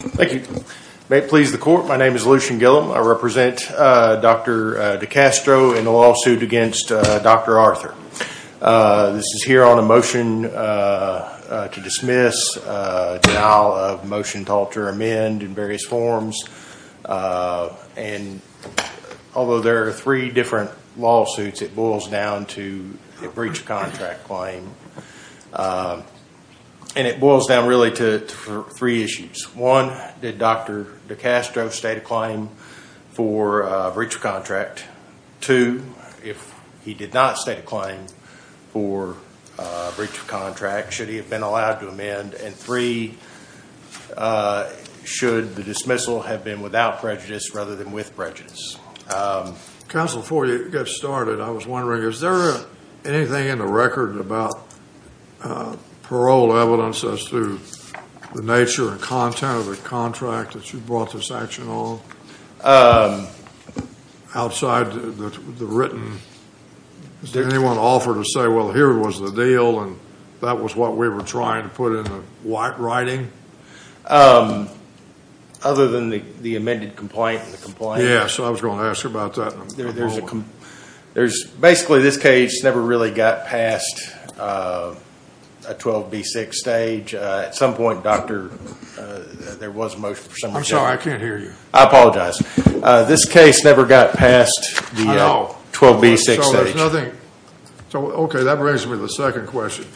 Thank you. May it please the court, my name is Lucian Gilliam. I represent Dr. DeCastro in the lawsuit against Dr. Arthur. This is here on a motion to dismiss, denial of motion to alter amend in various forms. Although there are three different lawsuits, it boils down to a breach of contract claim. And it boils down really to three issues. One, did Dr. DeCastro state a claim for a breach of contract? Two, if he did not state a claim for a breach of contract, should he have been allowed to amend? And three, should the dismissal have been without prejudice rather than with prejudice? Counsel, before you get started, I was wondering, is there anything in the record about parole evidence as to the nature and content of the contract that you brought this action on? Outside the written, did anyone offer to say, well, here was the deal and that was what we were trying to put in the writing? Other than the amended complaint and the complaint? Yeah, so I was going to ask you about that and I'm going to move on. Basically, this case never really got past a 12B6 stage. At some point, Dr., there was a motion for someone to- I'm sorry, I can't hear you. I apologize. This case never got past the 12B6 stage. Okay, that brings me to the second question.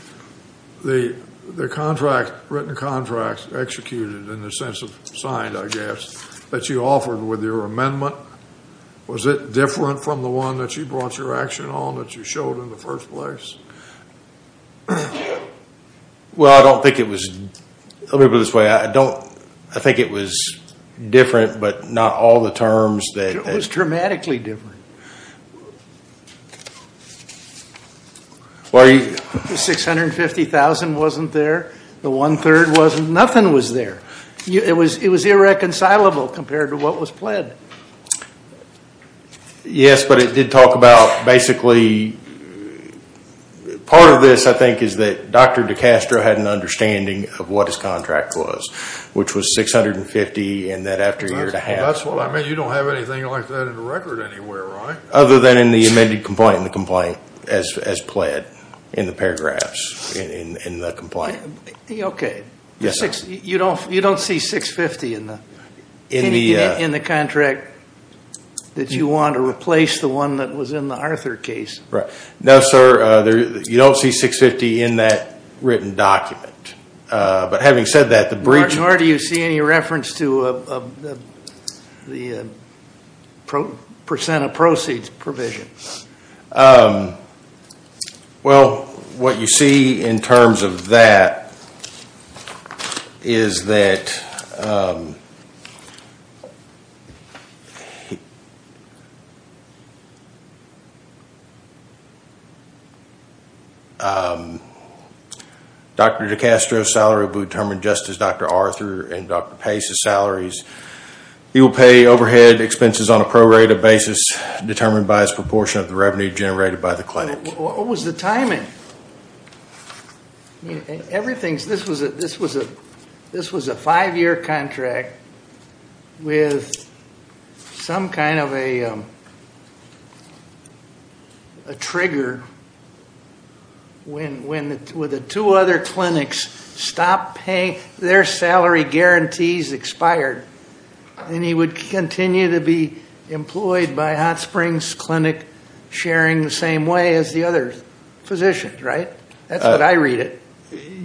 The written contract executed in the sense of signed, I guess, that you offered with your amendment, was it different from the one that you brought your action on that you showed in the first place? Well, I don't think it was, let me put it this way. I think it was different, but not all the terms that- It was dramatically different. The $650,000 wasn't there, the one-third wasn't, nothing was there. It was irreconcilable compared to what was pled. Yes, but it did talk about, basically, part of this, I think, is that Dr. DiCastro had an understanding of what his contract was, which was $650,000 and that after a year and a half- That's what I meant. You don't have anything like that in the record anywhere, right? Other than in the amended complaint and the complaint as pled in the paragraphs in the complaint. Okay. Yes, sir. You don't see $650,000 in the contract that you want to replace the one that was in the Arthur case? Right. No, sir. You don't see $650,000 in that written document, but having said that, the brief- Or do you see any reference to the percent of proceeds provision? Well, what you see in terms of that is that Dr. DiCastro's salary will be determined just as Dr. Arthur and Dr. Pace's salaries. He will pay overhead expenses on a prorated basis determined by his proportion of the revenue generated by the clinic. What was the timing? This was a five-year contract with some kind of a trigger. When the two other clinics stopped paying, their salary guarantees expired and he would continue to be employed by Hot Springs Clinic sharing the same way as the other physicians, right? That's what I read it.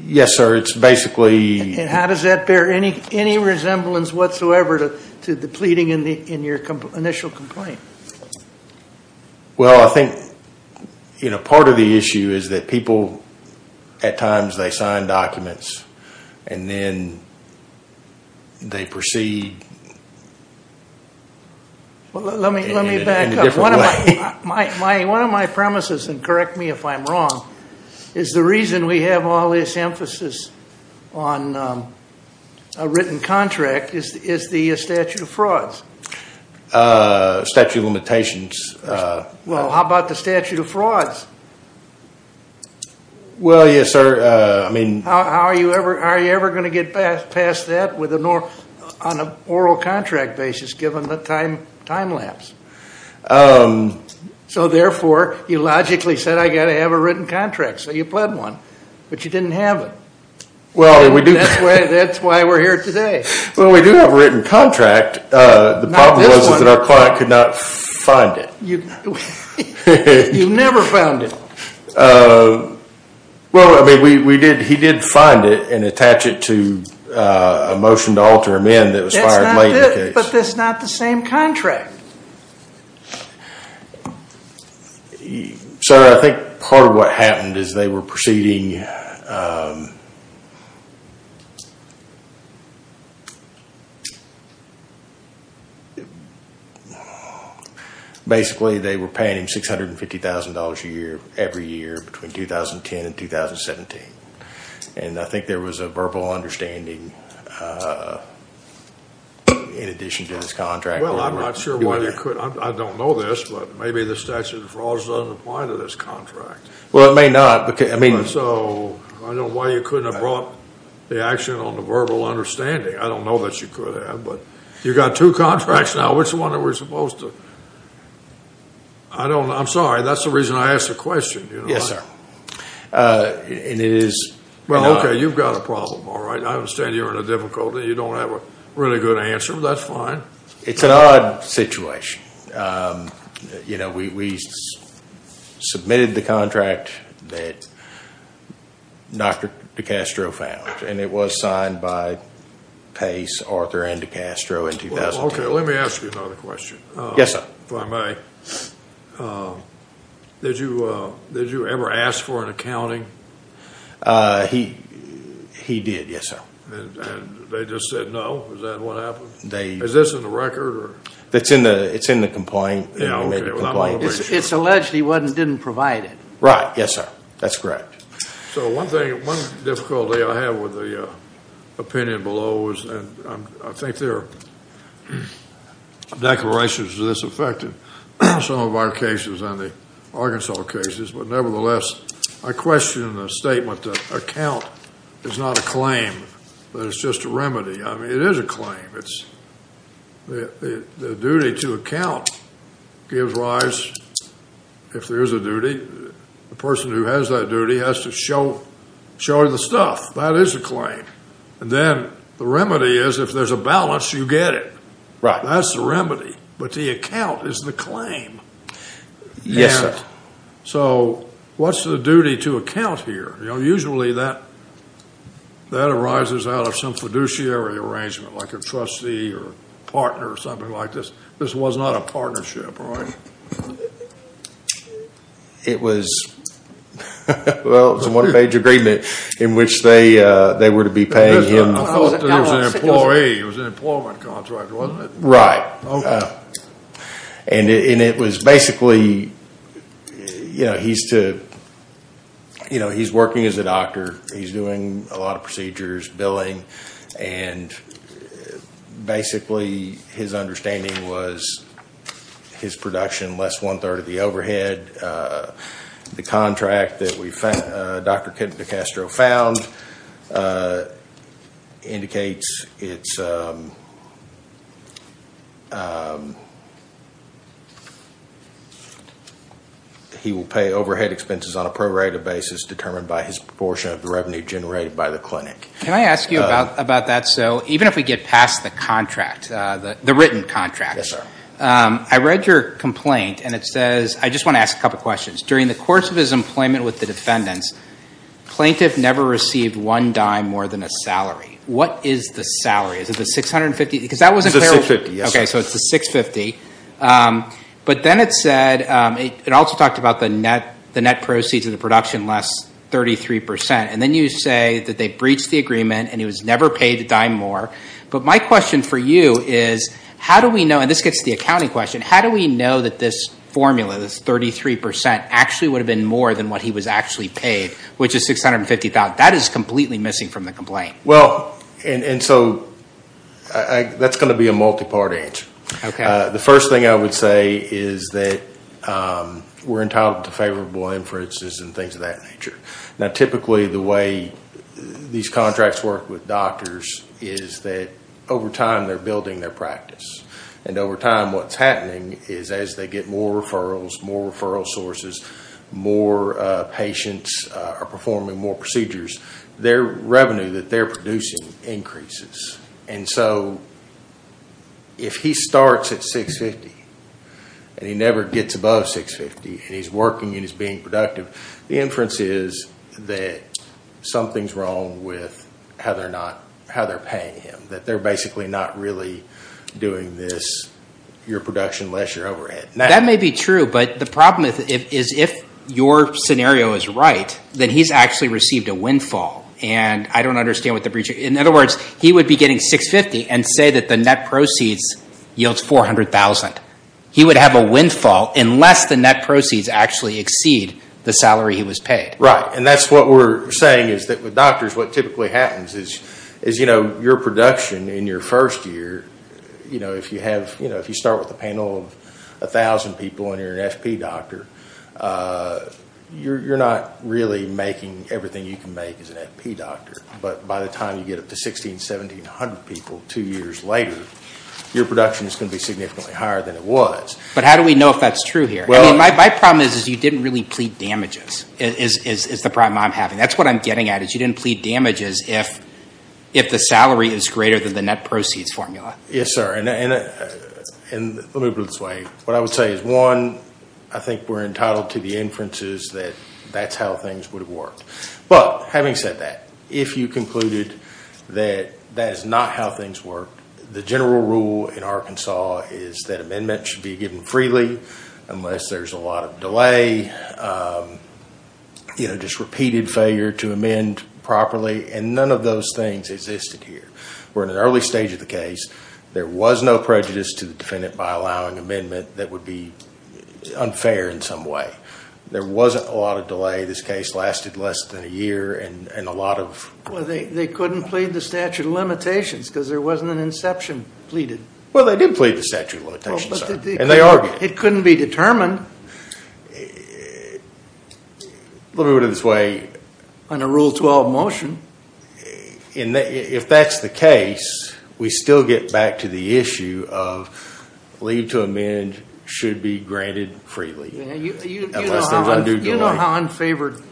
Yes, sir. It's basically- And how does that bear any resemblance whatsoever to the pleading in your initial complaint? Well, I think part of the issue is that people at times they sign documents and then they proceed in a different way. Well, let me back up. One of my premises, and correct me if I'm wrong, is the reason we have all this emphasis on a written contract is the statute of frauds. Statute of limitations. Well, how about the statute of frauds? Well, yes, sir. I mean- How are you ever going to get past that on an oral contract basis given the time lapse? So therefore, you logically said, I've got to have a written contract. So you pled one, but you didn't have it. That's why we're here today. Well, we do have a written contract. The problem was that our client could not find it. You never found it. Well, I mean, he did find it and attach it to a motion to alter him in that was fired late in the case. But that's not the same contract. Sir, I think part of what happened is they were proceeding- Well, I'm not sure why they couldn't. I don't know this, but maybe the statute of frauds doesn't apply to this contract. Well, it may not. So I don't know why you couldn't have brought the action on the verbal understanding. I don't know that you could have, but you've got two contracts now. Which one are we supposed to- I don't know. I'm sorry. That's the reason I asked the question. Yes, sir. And it is- Well, okay. You've got a problem. All right. I understand you're in a difficulty. You don't have a really good answer. That's fine. It's an odd situation. We submitted the contract that Dr. DeCastro found, and it was signed by Pace, Arthur, and DeCastro in 2010. Okay. Let me ask you another question, if I may. Yes, sir. Did you ever ask for an accounting? He did, yes, sir. And they just said no? Is that what happened? Is this in the record? It's in the complaint. Okay. Well, I don't want to make sure. It's alleged he didn't provide it. Right. Yes, sir. That's correct. So one difficulty I have with the opinion below is- and I think there are declarations to this effect in some of our cases and the Arkansas cases. But nevertheless, I question the statement that account is not a claim, but it's just a remedy. I mean, it is a claim. It's the duty to account gives rise, if there is a duty, the person who has that duty has to show the stuff. That is a claim. And then the remedy is, if there's a balance, you get it. That's the remedy. But the account is the claim. Yes, sir. So what's the duty to account here? Usually that arises out of some fiduciary arrangement like a trustee or partner or something like this. This was not a partnership, right? It was, well, it was a one page agreement in which they were to be paying him- I thought it was an employee. It was an employment contract, wasn't it? Right. And it was basically, you know, he's working as a doctor. He's doing a lot of procedures, billing, and basically his understanding was his production less one third of the overhead. The contract that we found, Dr. DeCastro found, indicates it's- he will pay overhead expenses on a prorated basis determined by his proportion of the revenue generated by the clinic. Can I ask you about that? So even if we get past the contract, the written contract, I read your complaint and it says- I just want to ask a couple of questions. During the course of his employment with the defendants, plaintiff never received one dime more than a salary. What is the salary? Is it the 650? Because that wasn't- It's the 650, yes, sir. Okay, so it's the 650. But then it said- it also talked about the net proceeds of the production less 33%. And then you say that they breached the agreement and he was never paid a dime more. But my question for you is, how do we know- and this gets to the accounting question- how do we know that this formula, this 33%, actually would have been more than what he was actually paid, which is 650,000? That is completely missing from the complaint. Well, and so that's going to be a multi-part answer. Okay. The first thing I would say is that we're entitled to favorable inferences and things of that nature. Now, typically the way these contracts work with doctors is that over time they're building their practice. And over time what's happening is as they get more referrals, more referral sources, more patients are performing more procedures, their revenue that they're producing increases. And so if he starts at 650 and he never gets above 650 and he's working and he's being productive, the inference is that something's wrong with how they're paying him. That they're basically not really doing this, your production, less your overhead. That may be true, but the problem is if your scenario is right, then he's actually received a windfall. And I don't understand what the breach- in other words, he would be getting 650 and say that the net proceeds yields 400,000. He would have a windfall unless the net proceeds actually exceed the salary he was paid. Right. And that's what we're saying is that with doctors what typically happens is your production in your first year, if you start with a panel of 1,000 people and you're an FP doctor, you're not really making everything you can make as an FP doctor. But by the time you get up to 1,600, 1,700 people two years later, your production is going to be significantly higher than it was. But how do we know if that's true here? I mean, my problem is you didn't really plead damages, is the problem I'm having. That's what I'm getting at, is you didn't plead damages if the salary is greater than the net proceeds formula. Yes sir, and let me put it this way. What I would say is one, I think we're entitled to the inferences that that's how things would have worked. But having said that, if you concluded that that is not how things work, the general rule in Arkansas is that amendment should be given freely unless there's a lot of delay, just repeated failure to amend properly, and none of those things existed here. We're in an early stage of the case. There was no prejudice to the defendant by allowing amendment that would be unfair in some way. There wasn't a lot of delay. This case lasted less than a year and a lot of- They couldn't plead the statute of limitations because there wasn't an inception pleaded. Well, they did plead the statute of limitations, sir, and they argued. It couldn't be determined. Let me put it this way. On a Rule 12 motion. If that's the case, we still get back to the issue of leave to amend should be granted freely unless there's undue delay. Do you know how unfavored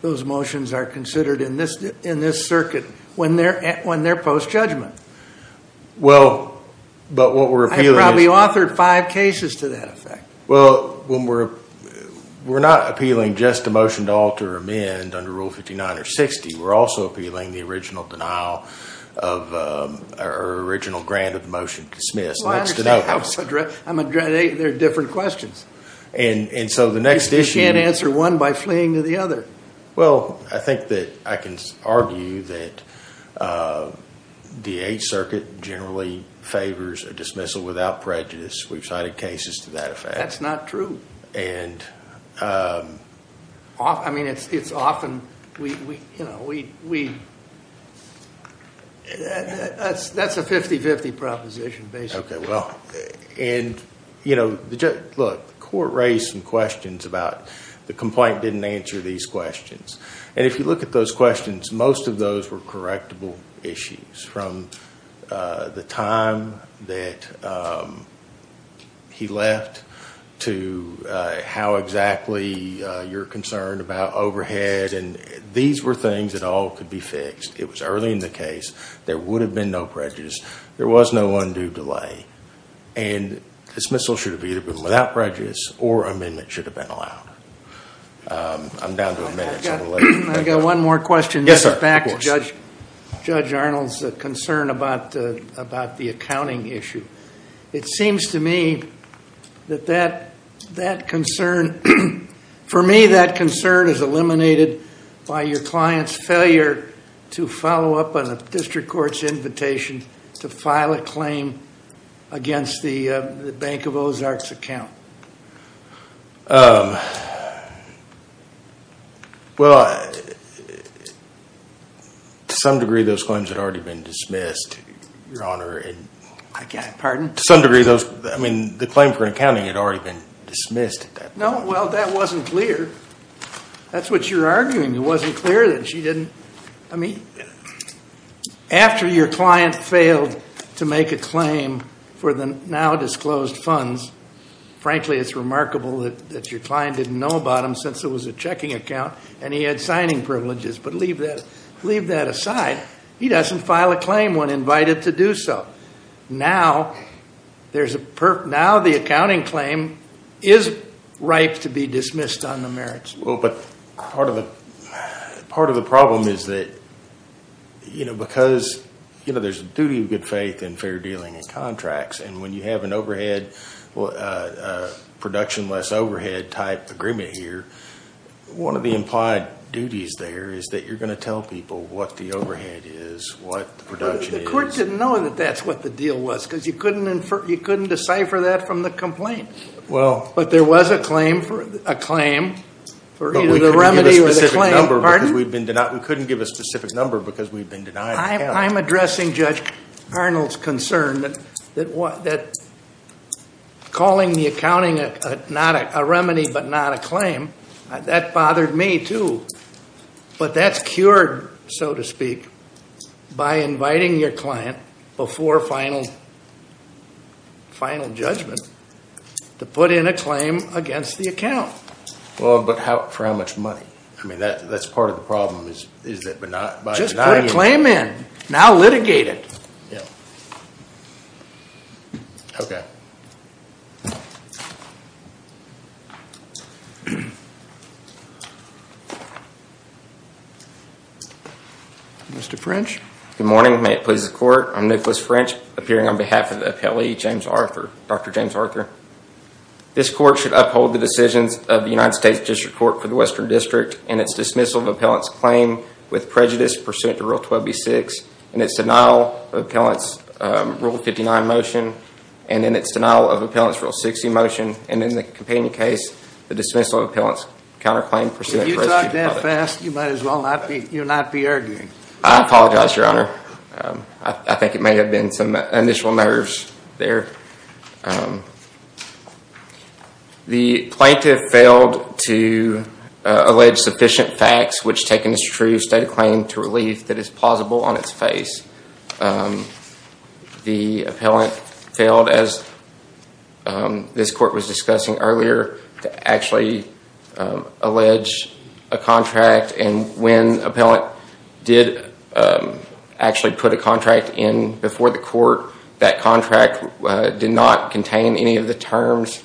those motions are considered in this circuit when they're post-judgment? But what we're appealing is- I probably authored five cases to that effect. Well, we're not appealing just a motion to alter or amend under Rule 59 or 60. We're also appealing the original denial or original grant of the motion dismissed. I understand. There are different questions. And so the next issue- You can't answer one by fleeing to the other. Well, I think that I can argue that the Eighth Circuit generally favors a dismissal without prejudice. We've cited cases to that effect. That's not true. That's a 50-50 proposition, basically. Okay, well, and look, the court raised some questions about the complaint didn't answer these questions. And if you look at those questions, most of those were correctable issues from the time that he left to how exactly you're concerned about overhead. And these were things that all could be fixed. It was early in the case. There would have been no prejudice. There was no undue delay. And dismissal should have either been without prejudice or amendment should have been allowed. I'm down to a minute, so I'm going to let- I've got one more question. Yes, sir. Back to Judge Arnold's concern about the accounting issue. It seems to me that that concern- To file a claim against the Bank of Ozarks account. Well, to some degree, those claims had already been dismissed, Your Honor. I beg your pardon? To some degree, those- I mean, the claim for accounting had already been dismissed at that point. No, well, that wasn't clear. That's what you're arguing. It wasn't clear that she didn't- After your client failed to make a claim for the now-disclosed funds, frankly, it's remarkable that your client didn't know about them since it was a checking account and he had signing privileges. But leave that aside. He doesn't file a claim when invited to do so. Now, the accounting claim is ripe to be dismissed on the merits. Well, but part of the problem is that because there's a duty of good faith in fair dealing and contracts, and when you have an overhead, production less overhead type agreement here, one of the implied duties there is that you're going to tell people what the overhead is, what the production is. The court didn't know that that's what the deal was because you couldn't decipher that from the complaint. Well- But there was a claim for either the remedy or the claim. Pardon? We couldn't give a specific number because we've been denied the account. I'm addressing Judge Arnold's concern that calling the accounting a remedy but not a claim, that bothered me too. But that's cured, so to speak, by inviting your client before final judgment to put in a claim against the account. Well, but for how much money? I mean, that's part of the problem, is that by denying- Just put a claim in. Now litigate it. Yeah. Okay. Mr. French? Good morning, may it please the court, I'm Nicholas French, appearing on behalf of the appellee, James Arthur, Dr. James Arthur. This court should uphold the decisions of the United States District Court for the Western District in its dismissal of appellant's claim with prejudice pursuant to Rule 12b-6 in its denial of appellant's Rule 59 motion and in its denial of appellant's Rule 60 motion and in the companion case, the dismissal of appellant's counterclaim- If you talk that fast, you might as well not be- you'll not be arguing. I apologize, Your Honor. I think it may have been some initial nerves there. The plaintiff failed to allege sufficient facts which taken as true, state a claim to relief that is plausible on its face. The appellant failed, as this court was discussing earlier, to actually allege a contract, and when appellant did actually put a contract in before the court, that contract did not contain any of the terms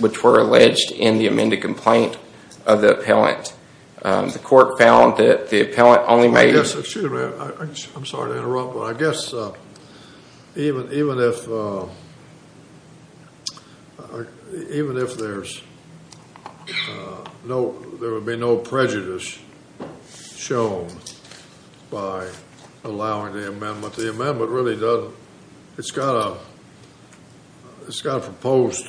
which were alleged in the amended complaint of the appellant. The court found that the appellant only made- Excuse me. I'm sorry to interrupt, but I guess even if there's no- there would be no prejudice shown by allowing the amendment, but the amendment really doesn't. It's got a proposed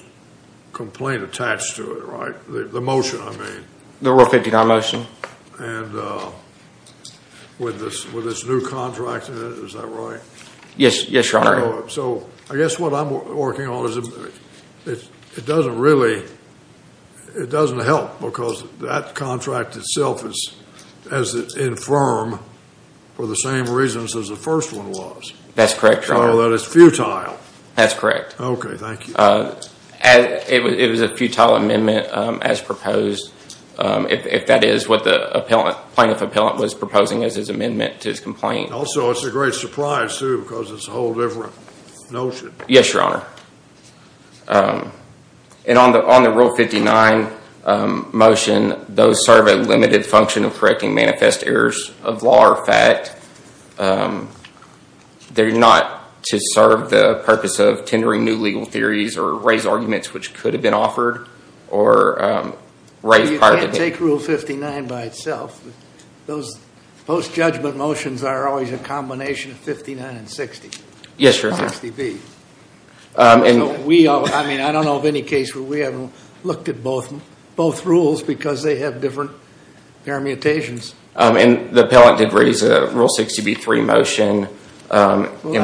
complaint attached to it, right? The motion, I mean. The Rule 59 motion. And with this new contract in it, is that right? Yes, Your Honor. So I guess what I'm working on is it doesn't really- it doesn't help because that contract itself is infirm for the same reasons as the first one was. That's correct, Your Honor. So that it's futile. That's correct. Okay, thank you. It was a futile amendment as proposed, if that is what the plaintiff appellant was proposing as his amendment to his complaint. Also, it's a great surprise, too, because it's a whole different notion. Yes, Your Honor. And on the Rule 59 motion, those serve a limited function of correcting manifest errors of law or fact. They're not to serve the purpose of tendering new legal theories or raise arguments which could have been offered or raised prior to that. You can't take Rule 59 by itself. Those post-judgment motions are always a combination of 59 and 60. Yes, Your Honor. 60B. I mean, I don't know of any case where we haven't looked at both rules because they have different permutations. And the appellant did raise a Rule 60B3 motion in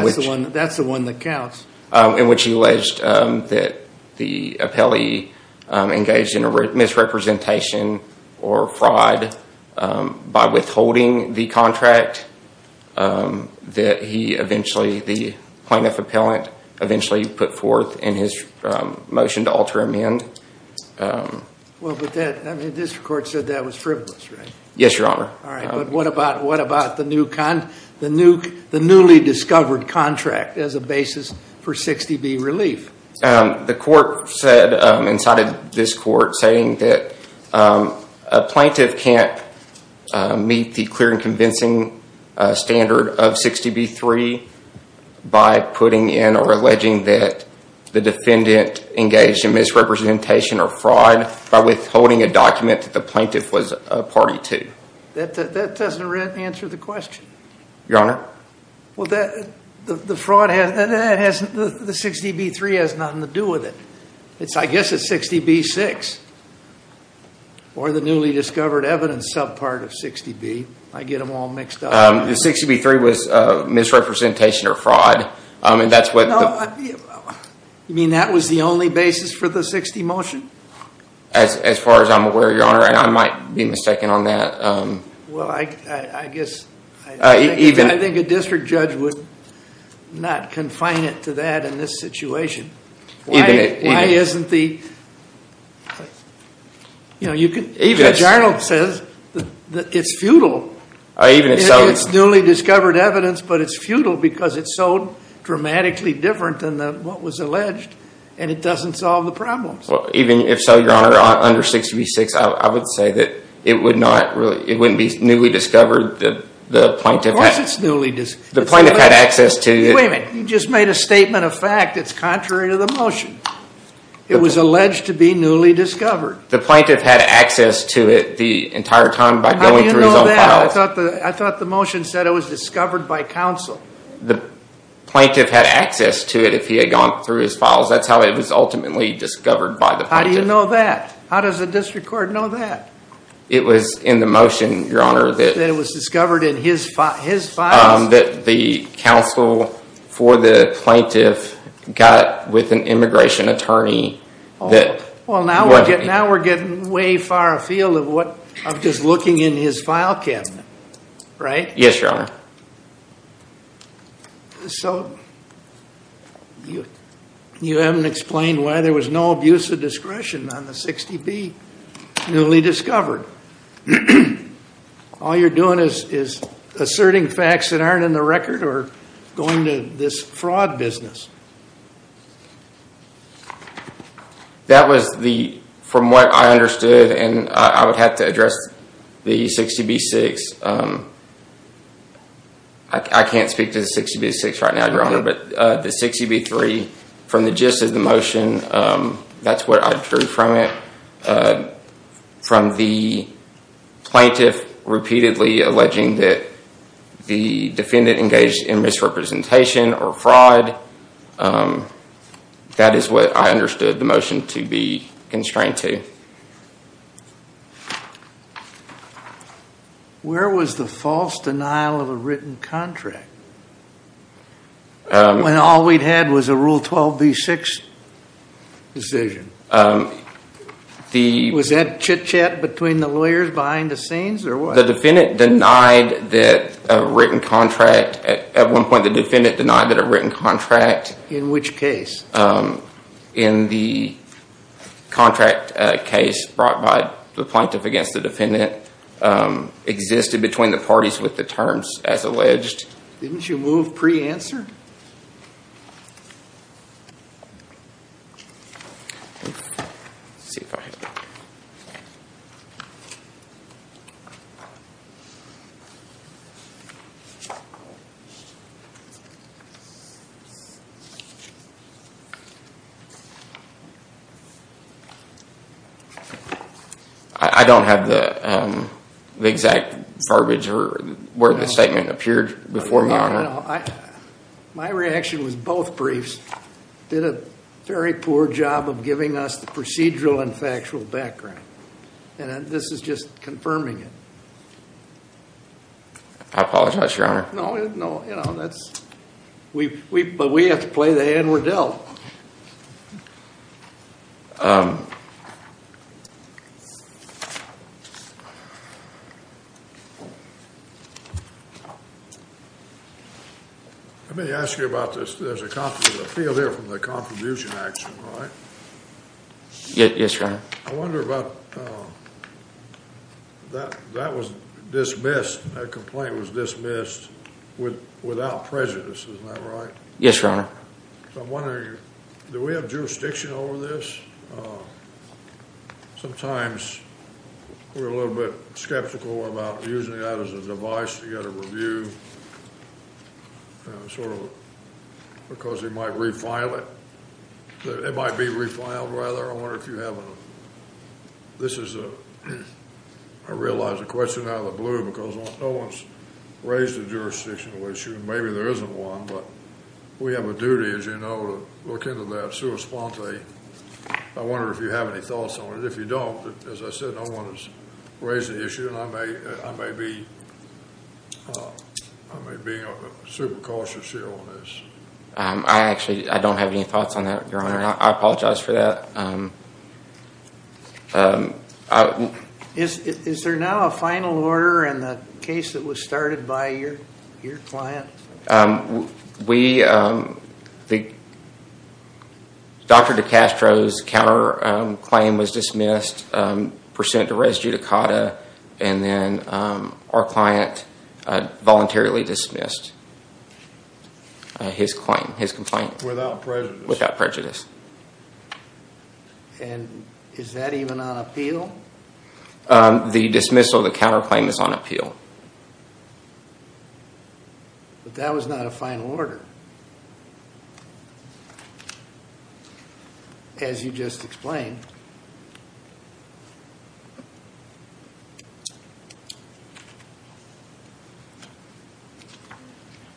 which- That's the one that counts. In which he alleged that the appellee engaged in a misrepresentation or fraud by withholding the contract, that he eventually, the plaintiff appellant, eventually put forth in his motion to alter amend. Well, but this court said that was frivolous, right? Yes, Your Honor. All right, but what about the newly discovered contract as a basis for 60B relief? The court said, and cited this court, saying that a plaintiff can't meet the clear and convincing standard of 60B3 by putting in or alleging that the defendant engaged in misrepresentation or fraud by withholding a document that the plaintiff was a party to. That doesn't answer the question. Your Honor? Well, the 60B3 has nothing to do with it. I guess it's 60B6 or the newly discovered evidence subpart of 60B. I get them all mixed up. The 60B3 was misrepresentation or fraud, and that's what- You mean that was the only basis for the 60 motion? As far as I'm aware, Your Honor, and I might be mistaken on that. Well, I guess- Even- I think a district judge would not confine it to that in this situation. Even if- Why isn't the- You know, you could- Even if- Judge Arnold says that it's futile. Even if so- It's newly discovered evidence, but it's futile because it's so dramatically different than what was alleged, and it doesn't solve the problems. Even if so, Your Honor, under 60B6, I would say that it would not really- It wouldn't be newly discovered, the plaintiff- Of course it's newly- The plaintiff had access to- Wait a minute, you just made a statement of fact that's contrary to the motion. It was alleged to be newly discovered. The plaintiff had access to it the entire time by going through his own files. How do you know that? I thought the motion said it was discovered by counsel. The plaintiff had access to it if he had gone through his files. That's how it was ultimately discovered by the plaintiff. How do you know that? How does the district court know that? It was in the motion, Your Honor, that- That it was discovered in his files? That the counsel for the plaintiff got with an immigration attorney that- Well, now we're getting way far afield of just looking in his file cabinet, right? Yes, Your Honor. So you haven't explained why there was no abuse of discretion on the 60B, newly discovered. All you're doing is asserting facts that aren't in the record or going to this fraud business. That was the- From what I understood, and I would have to address the 60B-6. I can't speak to the 60B-6 right now, Your Honor, but the 60B-3, from the gist of the motion, that's what I drew from it. From the plaintiff repeatedly alleging that the defendant engaged in misrepresentation or fraud, that is what I understood the motion to be constrained to. Where was the false denial of a written contract when all we'd had was a Rule 12B-6 decision? Was that chit-chat between the lawyers behind the scenes or what? The defendant denied that a written contract- At one point, the defendant denied that a written contract- In which case? In the contract case brought by the plaintiff against the defendant existed between the parties with the terms as alleged. Didn't you move pre-answer? Sure. I don't have the exact garbage or where the statement appeared before me, Your Honor. My reaction was both briefs did a very poor job of giving us the procedural and factual background. And this is just confirming it. I apologize, Your Honor. No, you know, that's- But we have to play the hand we're dealt. Let me ask you about this. There's a field there from the contribution action, right? Yes, Your Honor. I wonder about- That was dismissed, that complaint was dismissed without prejudice, isn't that right? Yes, Your Honor. So I'm wondering, do we have jurisdiction over this? Sometimes we're a little bit skeptical about using that as a device to get a review. Sort of because it might refile it. It might be refiled rather. I wonder if you have a- This is a- I realize the question out of the blue because no one's raised a jurisdictional issue. Maybe there isn't one, but we have a duty, as you know, to look into that. Sui sponte. I wonder if you have any thoughts on it. If you don't, as I said, no one has raised the issue and I may be super cautious here on this. I actually don't have any thoughts on that, Your Honor. I apologize for that. Is there now a final order in the case that was started by your client? We- Dr. DiCastro's counterclaim was dismissed, percent to res judicata, and then our client voluntarily dismissed his complaint. Without prejudice. Without prejudice. And is that even on appeal? That was not a final order. As you just explained.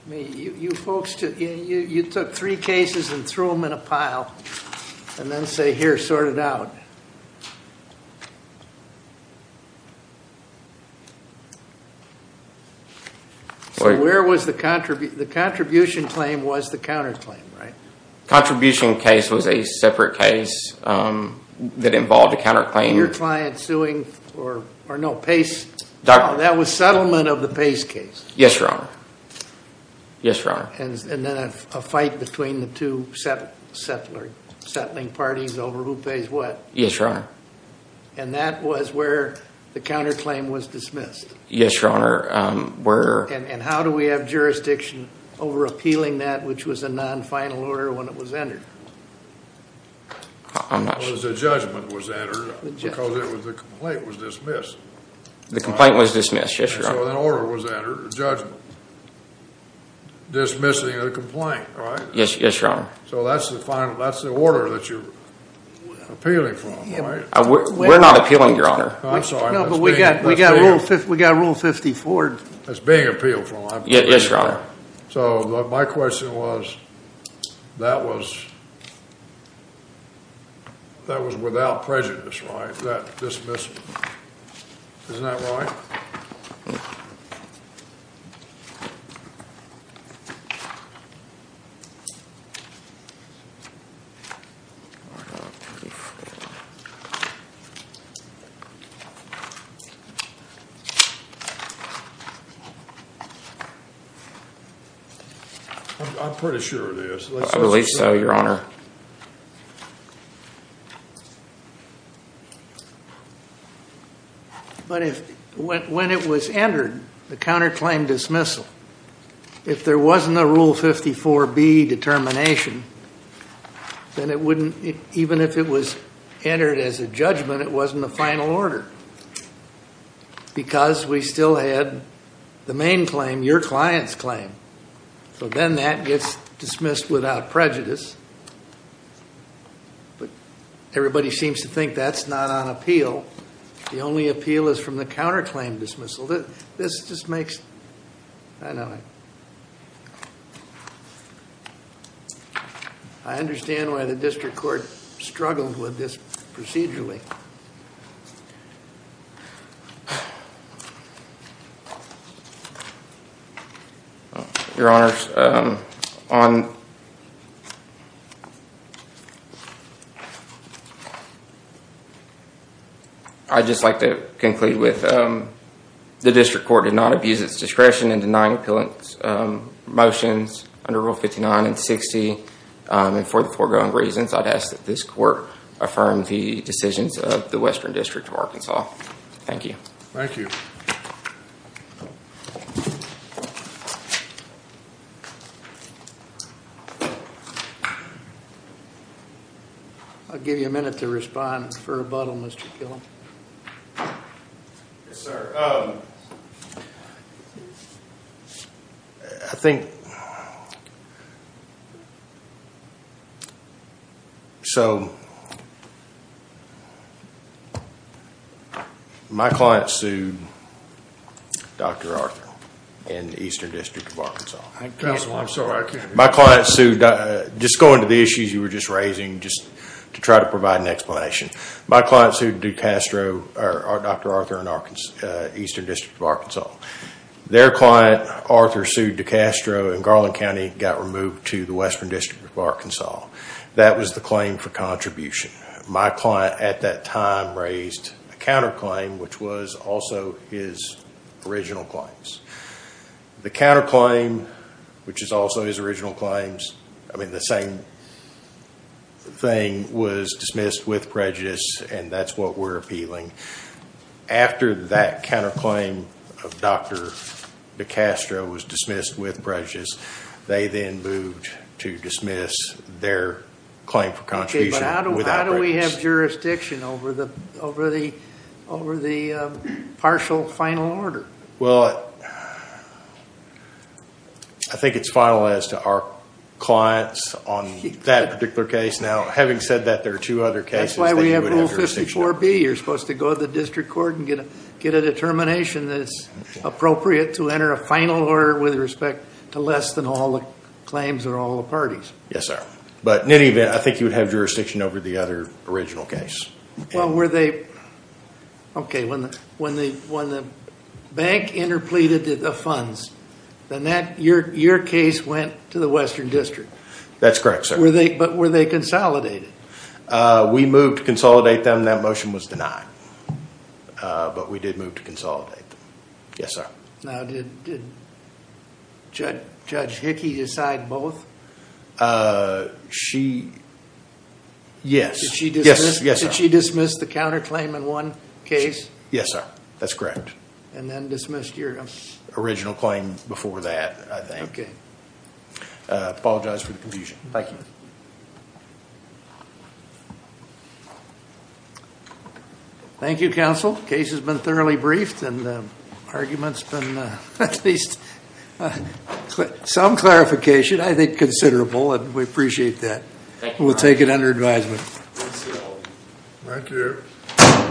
You folks took three cases and threw them in a pile and then say, here, sort it out. Okay. So where was the contribution? The contribution claim was the counterclaim, right? Contribution case was a separate case that involved a counterclaim. Your client suing, or no, Pace, that was settlement of the Pace case. Yes, Your Honor. Yes, Your Honor. And then a fight between the two settling parties over who pays what. Yes, Your Honor. And that was where the counterclaim was dismissed. Yes, Your Honor. And how do we have jurisdiction over appealing that, which was a non-final order when it was entered? The judgment was entered because the complaint was dismissed. The complaint was dismissed, yes, Your Honor. So an order was entered, a judgment, dismissing the complaint, right? Yes, Your Honor. So that's the order that you're appealing from, right? We're not appealing, Your Honor. I'm sorry. No, but we got Rule 54. It's being appealed from. Yes, Your Honor. So my question was, that was without prejudice, right, that dismissal? Isn't that right? Rule 54. I'm pretty sure it is. At least so, Your Honor. But when it was entered, the counterclaim dismissal, if there wasn't a Rule 54B determination, then it wouldn't, even if it was entered as a judgment, it wasn't a final order because we still had the main claim, your client's claim. So then that gets dismissed without prejudice. But everybody seems to think that's not on appeal. The only appeal is from the counterclaim dismissal. This just makes... I know. I understand why the district court struggled with this procedurally. Your Honor, on... I'd just like to conclude with the district court did not abuse its discretion in denying appellant's motions under Rule 59 and 60. And for the foregoing reasons, I'd ask that this court affirm the decisions of the Western District of Arkansas. Thank you. Thank you. Thank you. I'll give you a minute to respond for rebuttal, Mr. Killam. Yes, sir. I think... My client sued Dr. Arthur in the Eastern District of Arkansas. I can't... Counsel, I'm sorry, I can't hear you. My client sued... just going to the issues you were just raising, just to try to provide an explanation. My client sued DeCastro... Dr. Arthur in Eastern District of Arkansas. Their client, Arthur, sued DeCastro in Garland County and got removed to the Western District of Arkansas. That was the claim for contribution. My client, at that time, raised a counterclaim, which was also his original claims. The counterclaim, which is also his original claims, I mean the same thing, was dismissed with prejudice and that's what we're appealing. After that counterclaim of Dr. DeCastro was dismissed with prejudice, they then moved to dismiss their claim for contribution... Why do we have jurisdiction over the partial final order? Well, I think it's finalized to our clients on that particular case. Now, having said that, there are two other cases... That's why we have Rule 54B. You're supposed to go to the district court and get a determination that it's appropriate to enter a final order with respect to less than all the claims of all the parties. Yes, sir. But, in any event, I think you would have jurisdiction over the other original case. Well, were they... Okay, when the bank interpleaded the funds, then your case went to the Western District. That's correct, sir. But, were they consolidated? We moved to consolidate them. That motion was denied. But, we did move to consolidate them. Yes, sir. Now, did Judge Hickey decide both? She... Yes. Did she dismiss the counterclaim in one case? Yes, sir. That's correct. And then, dismissed your... Original claim before that, I think. Okay. I apologize for the confusion. Thank you. Thank you, Counsel. The case has been thoroughly briefed. And, the argument's been at least... some clarification, I think considerable. And, we appreciate that. We'll take it under advisement. Thank you. Thank you.